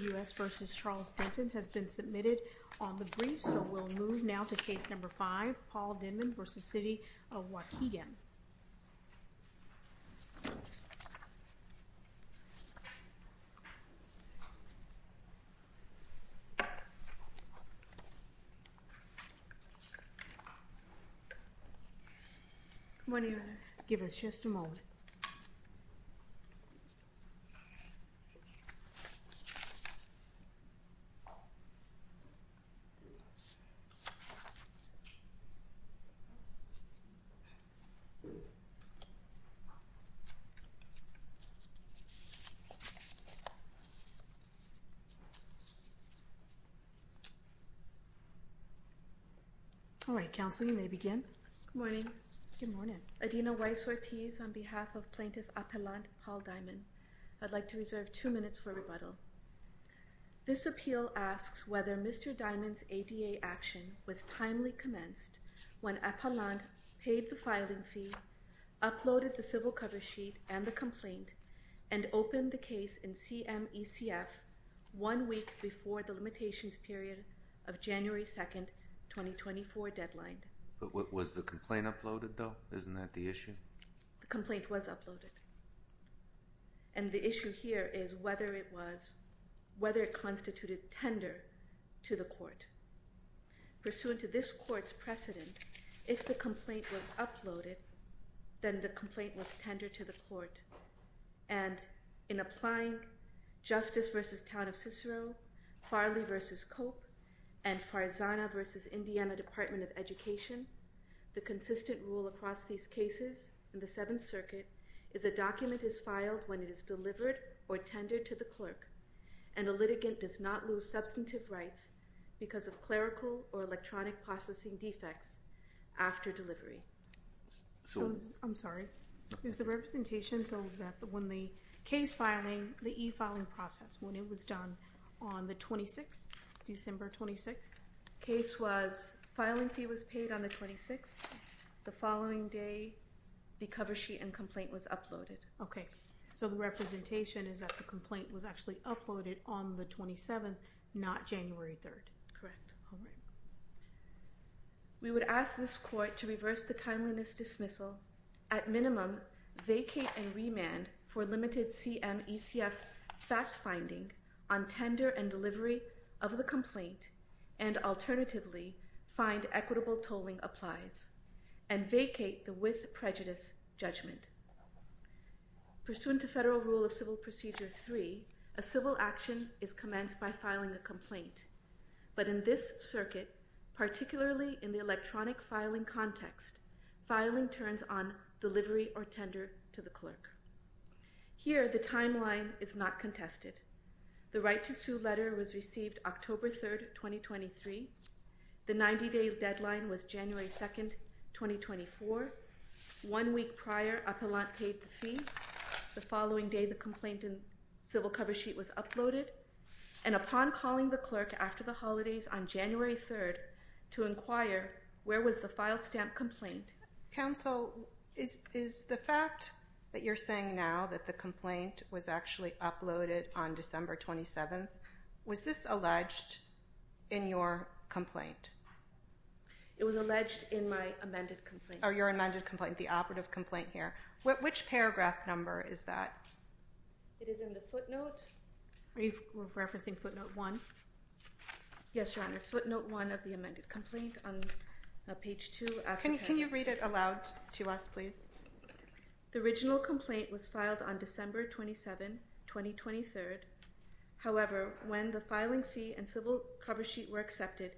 U.S. v. Charles Denton has been submitted on the brief, so we'll move now to Case No. 5, Paul Dimon v. City of Waukegan. Come on in. Give us just a moment. All right, Counsel, you may begin. Good morning. Adina Weiss-Ortiz, on behalf of Plaintiff Appellant Paul Dimon, I'd like to reserve two minutes for rebuttal. This appeal asks whether Mr. Dimon's ADA action was timely commenced when Appellant paid the filing fee, uploaded the civil cover sheet and the complaint, and opened the case in CMECF one week before the limitations period of January 2, 2024, deadline. But was the complaint uploaded, though? Isn't that the issue? The complaint was uploaded. And the issue here is whether it was, whether it constituted tender to the court. Pursuant to this court's precedent, if the complaint was uploaded, then the complaint was tendered to the court. And in applying Justice v. Town of Cicero, Farley v. Cope, and Farzana v. Indiana Department of Education, the consistent rule across these cases in the Seventh Circuit is a document is filed when it is delivered or tendered to the clerk, and a litigant does not lose substantive rights because of clerical or electronic processing defects after delivery. I'm sorry. Is the representation so that when the case filing, the e-filing process, when it was done on the 26th, December 26th? Case was, filing fee was paid on the 26th. The following day, the cover sheet and complaint was uploaded. Okay. So the representation is that the complaint was actually uploaded on the 27th, not January 3rd. Correct. All right. We would ask this court to reverse the timeliness dismissal, at minimum, vacate and remand for limited CMECF factfinding on tender and delivery of the complaint, and alternatively, find equitable tolling applies, and vacate the with prejudice judgment. Pursuant to Federal Rule of Civil Procedure 3, a civil action is commenced by filing a complaint, but in this circuit, particularly in the electronic filing context, filing turns on delivery or tender to the clerk. Here, the timeline is not contested. The right to sue letter was received October 3rd, 2023. The 90-day deadline was January 2nd, 2024. One week prior, Appellant paid the fee. The following day, the complaint and civil cover sheet was uploaded. And upon calling the clerk after the holidays on January 3rd to inquire, where was the file stamp complaint? Counsel, is the fact that you're saying now that the complaint was actually uploaded on December 27th, was this alleged in your complaint? It was alleged in my amended complaint. Or your amended complaint, the operative complaint here. Which paragraph number is that? It is in the footnote. Are you referencing footnote 1? Yes, Your Honor. Footnote 1 of the amended complaint on page 2. Can you read it aloud to us, please? The original complaint was filed on December 27th, 2023. However, when the filing fee and civil cover sheet were accepted,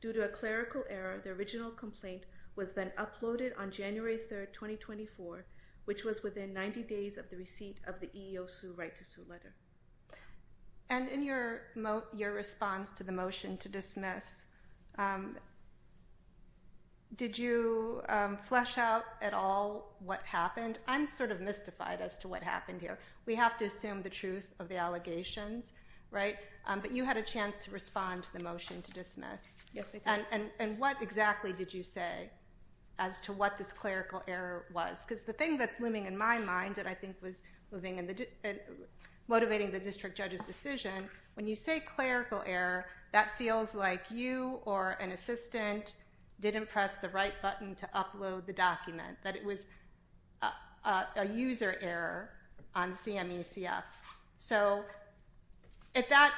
due to a clerical error, the original complaint was then uploaded on January 3rd, 2024, which was within 90 days of the receipt of the EEO sue right to sue letter. And in your response to the motion to dismiss, did you flesh out at all what happened? I'm sort of mystified as to what happened here. We have to assume the truth of the allegations, right? But you had a chance to respond to the motion to dismiss. Yes, I did. And what exactly did you say as to what this clerical error was? Because the thing that's looming in my mind that I think was motivating the district judge's decision, when you say clerical error, that feels like you or an assistant didn't press the right button to upload the document. That it was a user error on CME-CF. So if that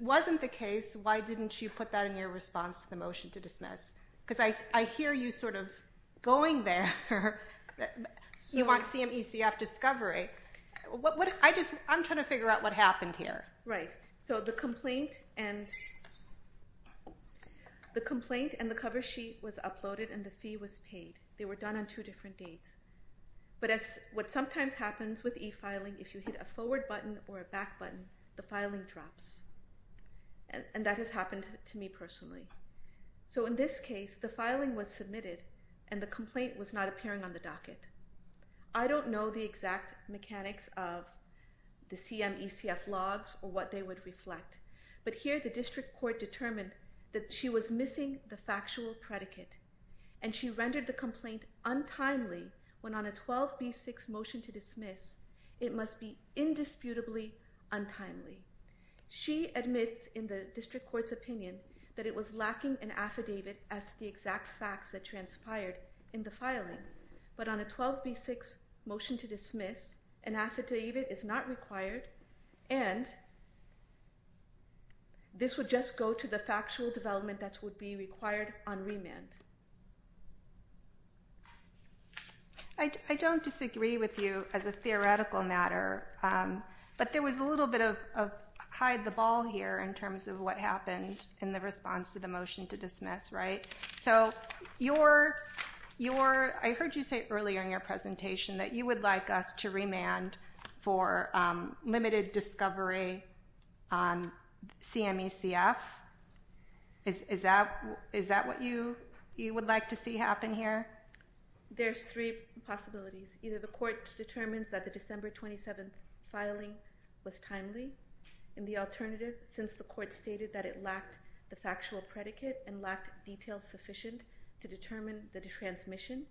wasn't the case, why didn't you put that in your response to the motion to dismiss? Because I hear you sort of going there. You want CME-CF discovery. I'm trying to figure out what happened here. Right, so the complaint and the cover sheet was uploaded and the fee was paid. They were done on two different dates. But what sometimes happens with e-filing, if you hit a forward button or a back button, the filing drops. And that has happened to me personally. So in this case, the filing was submitted and the complaint was not appearing on the docket. I don't know the exact mechanics of the CME-CF logs or what they would reflect. But here the district court determined that she was missing the factual predicate. And she rendered the complaint untimely when on a 12B6 motion to dismiss, it must be indisputably untimely. She admits in the district court's opinion that it was lacking an affidavit as to the exact facts that transpired in the filing. But on a 12B6 motion to dismiss, an affidavit is not required. And this would just go to the factual development that would be required on remand. I don't disagree with you as a theoretical matter. But there was a little bit of hide the ball here in terms of what happened in the response to the motion to dismiss, right? So I heard you say earlier in your presentation that you would like us to remand for limited discovery on CME-CF. Is that what you would like to see happen here? There's three possibilities. Either the court determines that the December 27th filing was timely. And the alternative, since the court stated that it lacked the factual predicate and lacked details sufficient to determine the transmission,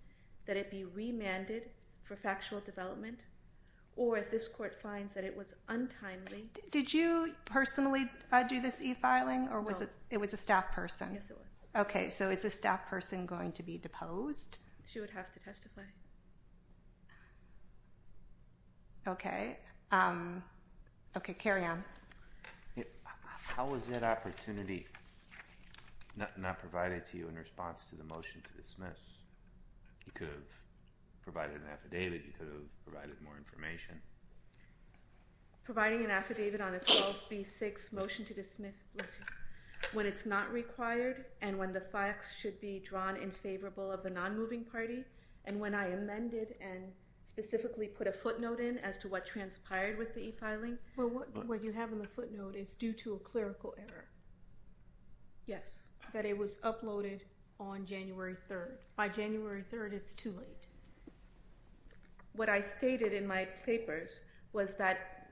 that it be remanded for factual development. Or if this court finds that it was untimely. Did you personally do this e-filing or was it a staff person? Yes, it was. Okay, so is a staff person going to be deposed? She would have to testify. Okay. Okay, carry on. How was that opportunity not provided to you in response to the motion to dismiss? You could have provided an affidavit. You could have provided more information. Providing an affidavit on a 12B6 motion to dismiss. When it's not required and when the facts should be drawn in favorable of the non-moving party. And when I amended and specifically put a footnote in as to what transpired with the e-filing. What you have in the footnote is due to a clerical error. Yes. That it was uploaded on January 3rd. By January 3rd, it's too late. What I stated in my papers was that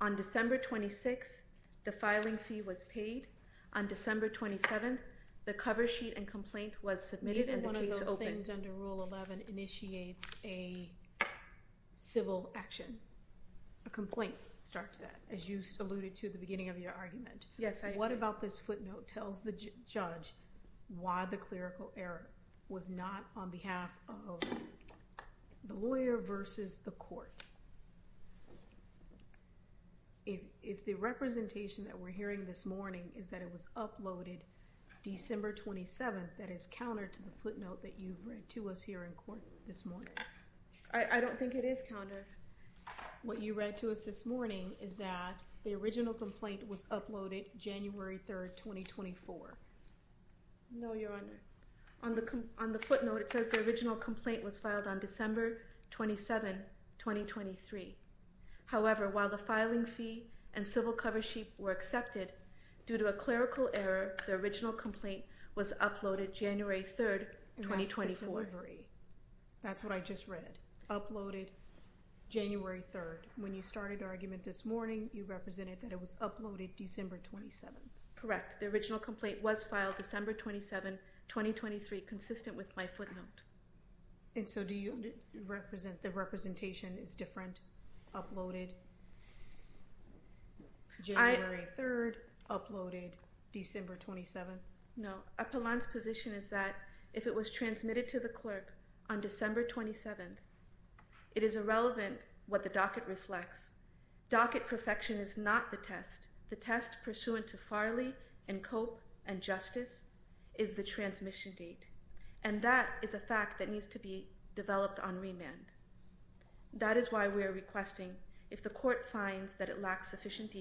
on December 26th, the filing fee was paid. On December 27th, the cover sheet and complaint was submitted and the case opened. One of those things under Rule 11 initiates a civil action. A complaint starts that, as you alluded to at the beginning of your argument. Yes, I did. What about this footnote tells the judge why the clerical error was not on behalf of the lawyer versus the court? If the representation that we're hearing this morning is that it was uploaded December 27th. That is counter to the footnote that you've read to us here in court this morning. I don't think it is counter. What you read to us this morning is that the original complaint was uploaded January 3rd, 2024. No, Your Honor. On the footnote, it says the original complaint was filed on December 27th, 2023. However, while the filing fee and civil cover sheet were accepted, due to a clerical error, the original complaint was uploaded January 3rd, 2024. That's the delivery. That's what I just read. Uploaded January 3rd. When you started the argument this morning, you represented that it was uploaded December 27th. Correct. The original complaint was filed December 27th, 2023, consistent with my footnote. And so do you represent the representation is different? Uploaded January 3rd, uploaded December 27th? No. Apollon's position is that if it was transmitted to the clerk on December 27th, it is irrelevant what the docket reflects. Docket perfection is not the test. The test pursuant to Farley and Cope and Justice is the transmission date. And that is a fact that needs to be developed on remand. That is why we are requesting, if the court finds that it lacks sufficient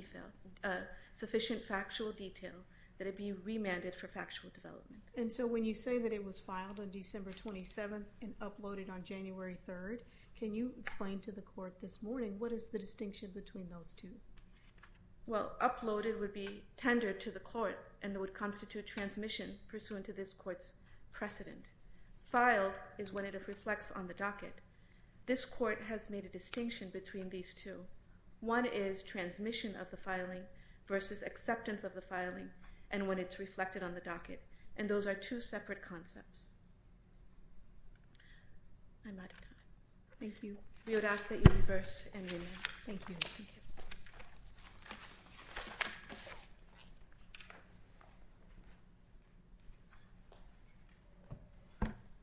factual detail, that it be remanded for factual development. And so when you say that it was filed on December 27th and uploaded on January 3rd, can you explain to the court this morning, what is the distinction between those two? Well, uploaded would be tendered to the court and would constitute transmission pursuant to this court's precedent. Filed is when it reflects on the docket. This court has made a distinction between these two. One is transmission of the filing versus acceptance of the filing and when it's reflected on the docket. And those are two separate concepts. I'm out of time. Thank you. We would ask that you reverse and remand. Thank you.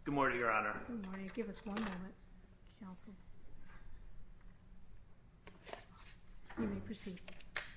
Good morning, Your Honor.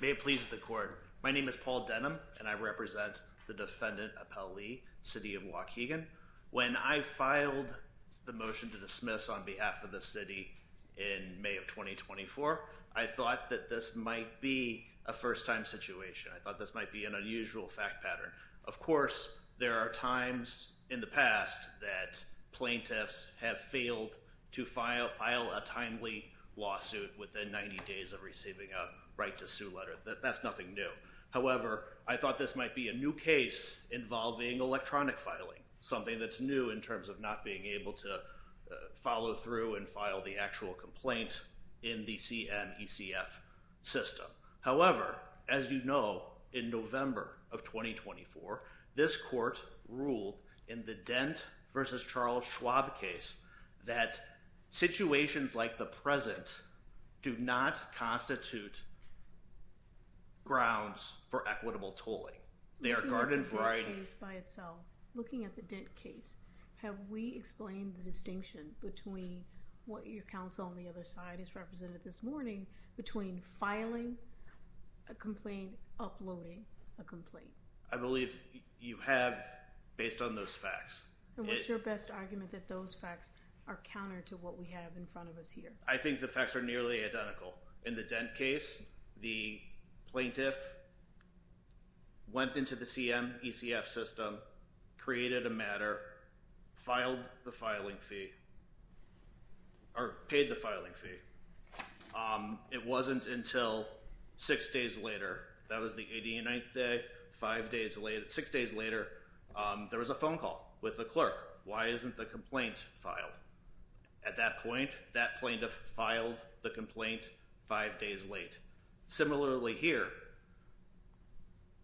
May it please the court. My name is Paul Denham and I represent the defendant, Appel Lee, city of Waukegan. When I filed the motion to dismiss on behalf of the city in May of 2024, I thought that this might be a first time situation. I thought this might be an unusual fact pattern. Of course, there are times in the past that plaintiffs have failed to file a timely lawsuit within 90 days of receiving a right to sue letter. That's nothing new. However, I thought this might be a new case involving electronic filing. Something that's new in terms of not being able to follow through and file the actual complaint in the CNECF system. However, as you know, in November of 2024, this court ruled in the Dent versus Charles Schwab case that situations like the present do not constitute grounds for equitable tolling. Looking at the Dent case by itself, have we explained the distinction between what your counsel on the other side has represented this morning between filing a complaint and uploading a complaint? I believe you have based on those facts. And what's your best argument that those facts are counter to what we have in front of us here? I think the facts are nearly identical. In the Dent case, the plaintiff went into the CNECF system, created a matter, paid the filing fee. It wasn't until six days later, that was the 89th day, six days later, there was a phone call with the clerk. Why isn't the complaint filed? At that point, that plaintiff filed the complaint five days late. Similarly here,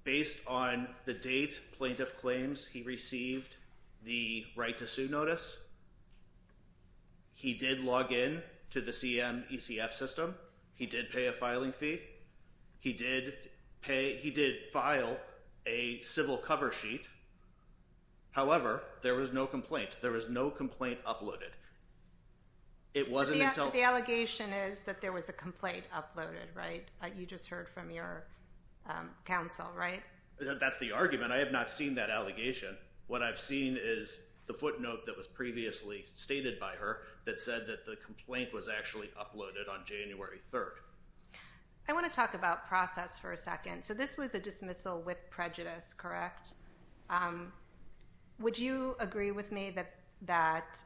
based on the date plaintiff claims he received the right to sue notice, he did log in to the CNECF system. He did pay a filing fee. He did file a civil cover sheet. However, there was no complaint. There was no complaint uploaded. The allegation is that there was a complaint uploaded, right? You just heard from your counsel, right? That's the argument. I have not seen that allegation. What I've seen is the footnote that was previously stated by her that said that the complaint was actually uploaded on January 3rd. I want to talk about process for a second. So this was a dismissal with prejudice, correct? Would you agree with me that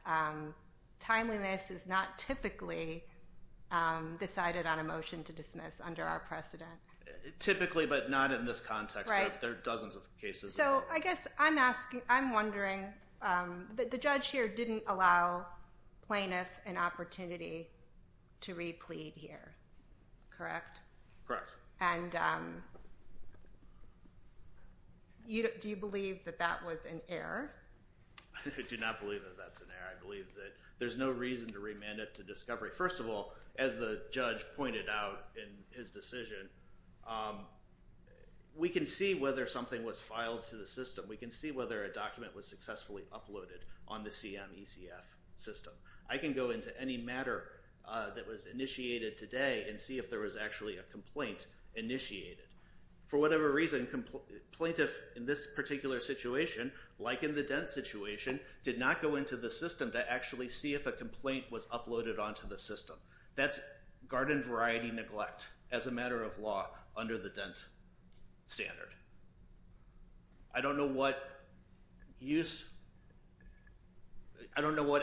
timeliness is not typically decided on a motion to dismiss under our precedent? Typically, but not in this context. There are dozens of cases. I'm wondering, the judge here didn't allow plaintiff an opportunity to re-plead here, correct? Correct. And do you believe that that was an error? I do not believe that that's an error. I believe that there's no reason to remand it to discovery. First of all, as the judge pointed out in his decision, we can see whether something was filed to the system. We can see whether a document was successfully uploaded on the CNECF system. I can go into any matter that was initiated today and see if there was actually a complaint initiated. For whatever reason, plaintiff in this particular situation, like in the Dent situation, did not go into the system to actually see if a complaint was uploaded onto the system. That's garden variety neglect as a matter of law under the Dent standard. I don't know what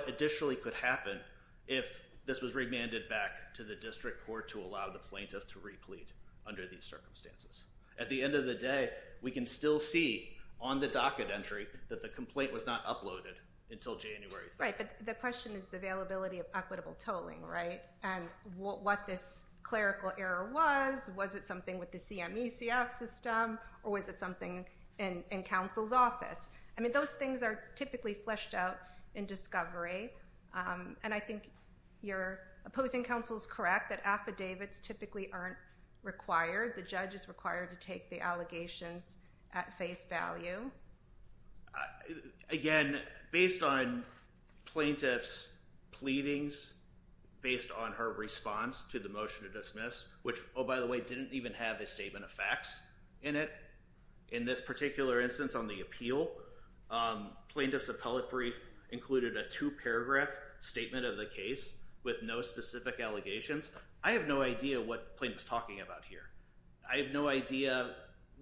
additionally could happen if this was remanded back to the district court to allow the plaintiff to re-plead under these circumstances. At the end of the day, we can still see on the docket entry that the complaint was not uploaded until January 3rd. Right, but the question is the availability of equitable tolling, right? What this clerical error was, was it something with the CNECF system or was it something in counsel's office? Those things are typically fleshed out in discovery. I think your opposing counsel is correct that affidavits typically aren't required. The judge is required to take the allegations at face value. Again, based on plaintiff's pleadings, based on her response to the motion to dismiss, which, oh by the way, didn't even have a statement of facts in it. In this particular instance on the appeal, plaintiff's appellate brief included a two-paragraph statement of the case with no specific allegations. I have no idea what plaintiff's talking about here. I have no idea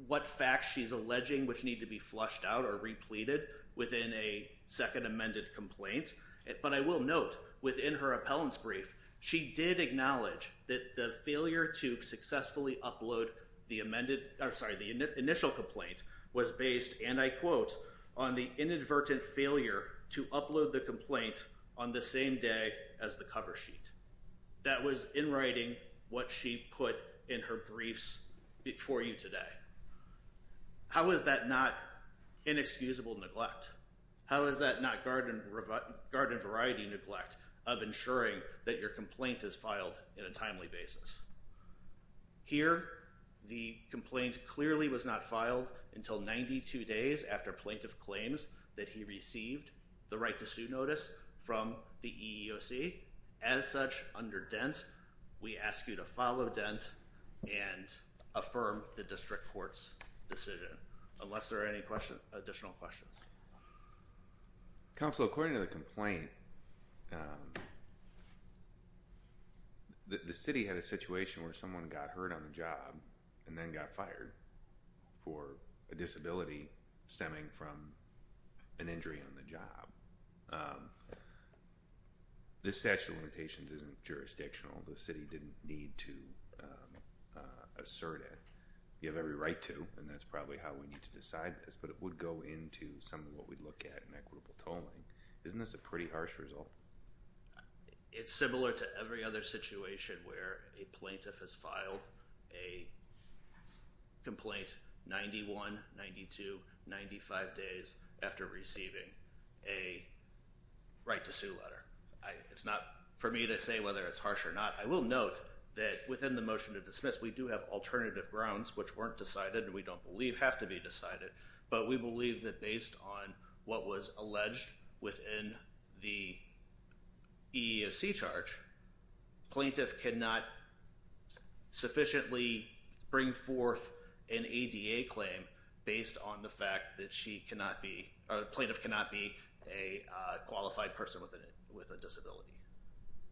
what facts she's alleging which need to be flushed out or re-pleaded within a second amended complaint. But I will note within her appellant's brief, she did acknowledge that the failure to successfully upload the amended, I'm sorry, the initial complaint was based, and I quote, on the inadvertent failure to upload the complaint on the same day as the cover sheet. That was in writing what she put in her briefs for you today. How is that not inexcusable neglect? How is that not garden variety neglect of ensuring that your complaint is filed in a timely basis? Here, the complaint clearly was not filed until 92 days after plaintiff claims that he received the right to sue notice from the EEOC. As such, under Dent, we ask you to follow Dent and affirm the district court's decision. Unless there are any additional questions. Counsel, according to the complaint, the city had a situation where someone got hurt on the job and then got fired for a disability stemming from an injury on the job. This statute of limitations isn't jurisdictional. The city didn't need to assert it. You have every right to and that's probably how we need to decide this, but it would go into some of what we look at in equitable tolling. Isn't this a pretty harsh result? It's similar to every other situation where a plaintiff has filed a complaint 91, 92, 95 days after receiving a right to sue letter. It's not for me to say whether it's harsh or not. I will note that within the motion to dismiss, we do have alternative grounds which weren't decided and we don't believe have to be decided, but we believe that based on what was alleged within the EEOC charge, plaintiff cannot sufficiently bring forth an ADA claim based on the fact that she cannot be, plaintiff cannot be a qualified person with a disability.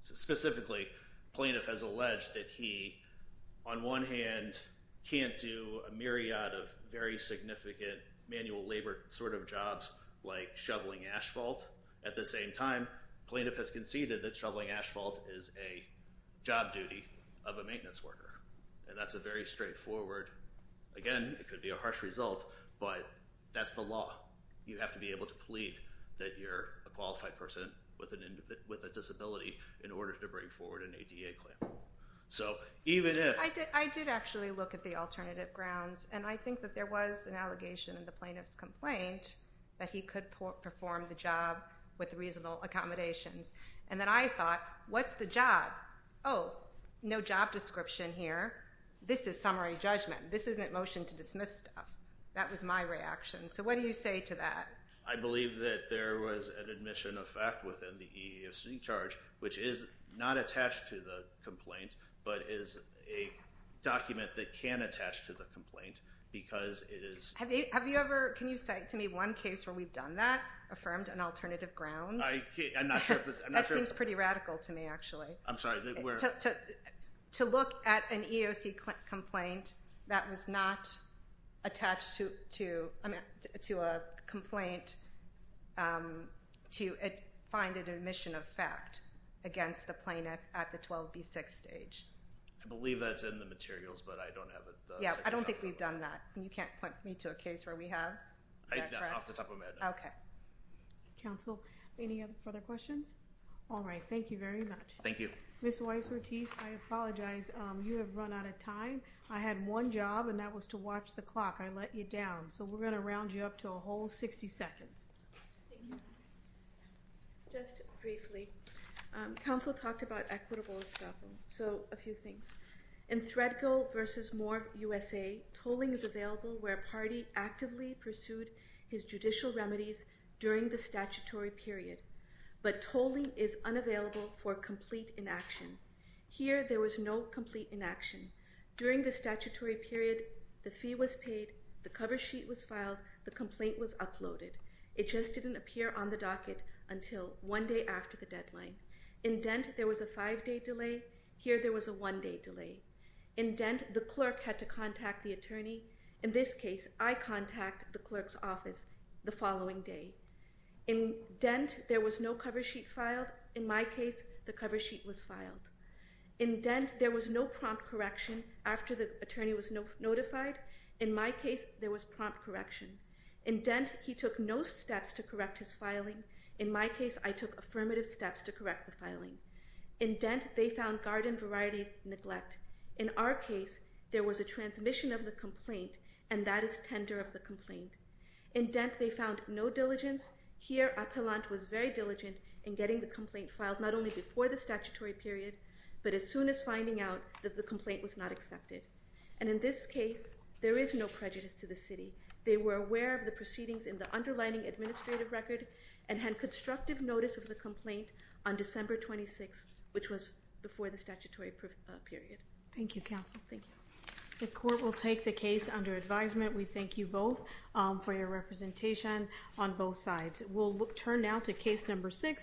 Specifically, plaintiff has alleged that he on one hand can't do a myriad of very significant manual labor sort of jobs like shoveling asphalt. At the same time, plaintiff has conceded that shoveling asphalt is a job duty of a maintenance worker and that's a very straightforward. Again, it could be a harsh result, but that's the law. You have to be able to plead that you're a qualified person with a disability in order to bring forward an ADA claim. I did actually look at the alternative grounds and I think that there was an allegation in the plaintiff's complaint that he could perform the job with reasonable accommodations and that I thought, what's the job? Oh, no job description here. This is summary judgment. This isn't motion to dismiss stuff. That was my reaction. So what do you say to that? I believe that there was an admission of fact within the EEOC charge, which is not attached to the complaint, but is a document that can attach to the complaint because it is. Have you ever, can you cite to me one case where we've done that, affirmed an alternative grounds? I'm not sure. That seems pretty radical to me actually. I'm sorry. To look at an EEOC complaint that was not attached to a complaint to find an admission of fact against the plaintiff at the 12B6 stage. I believe that's in the materials, but I don't have it. Yeah, I don't think we've done that. You can't point me to a case where we have? Off the top of my head, no. Okay. Counsel, any further questions? All right. Thank you very much. Thank you. Ms. Weiss-Ortiz, I apologize. You have run out of time. I had one job and that was to watch the clock. I let you down. So we're going to round you up to a whole 60 seconds. Thank you. Just briefly. Counsel talked about equitable establishment. So a few things. In Thredco versus More USA, tolling is available where a party actively pursued his judicial remedies during the statutory period. Tolling is unavailable for complete inaction. Here, there was no complete inaction. During the statutory period, the fee was paid, the cover sheet was filed, the complaint was uploaded. It just didn't appear on the docket until one day after the deadline. In Dent, there was a five-day delay. Here, there was a one-day delay. In Dent, the clerk had to contact the attorney. In this case, I contact the clerk's office the following day. In Dent, there was no cover sheet filed. In my case, the cover sheet was filed. In Dent, there was no prompt correction after the attorney was notified. In my case, there was prompt correction. In Dent, he took no steps to correct his filing. In my case, I took affirmative steps to correct the filing. In Dent, they found garden variety neglect. In our case, there was a transmission of the complaint, and that is tender of the complaint. In Dent, they found no diligence. Here, Appellant was very diligent in getting the complaint filed not only before the statutory period, but as soon as finding out that the complaint was not accepted. And in this case, there is no prejudice to the city. They were aware of the proceedings in the underlining administrative record and had constructive notice of the complaint on December 26, which was before the statutory period. Thank you, counsel. Thank you. The court will take the case under advisement. We thank you both for your representation on both sides. We'll turn now to case number six.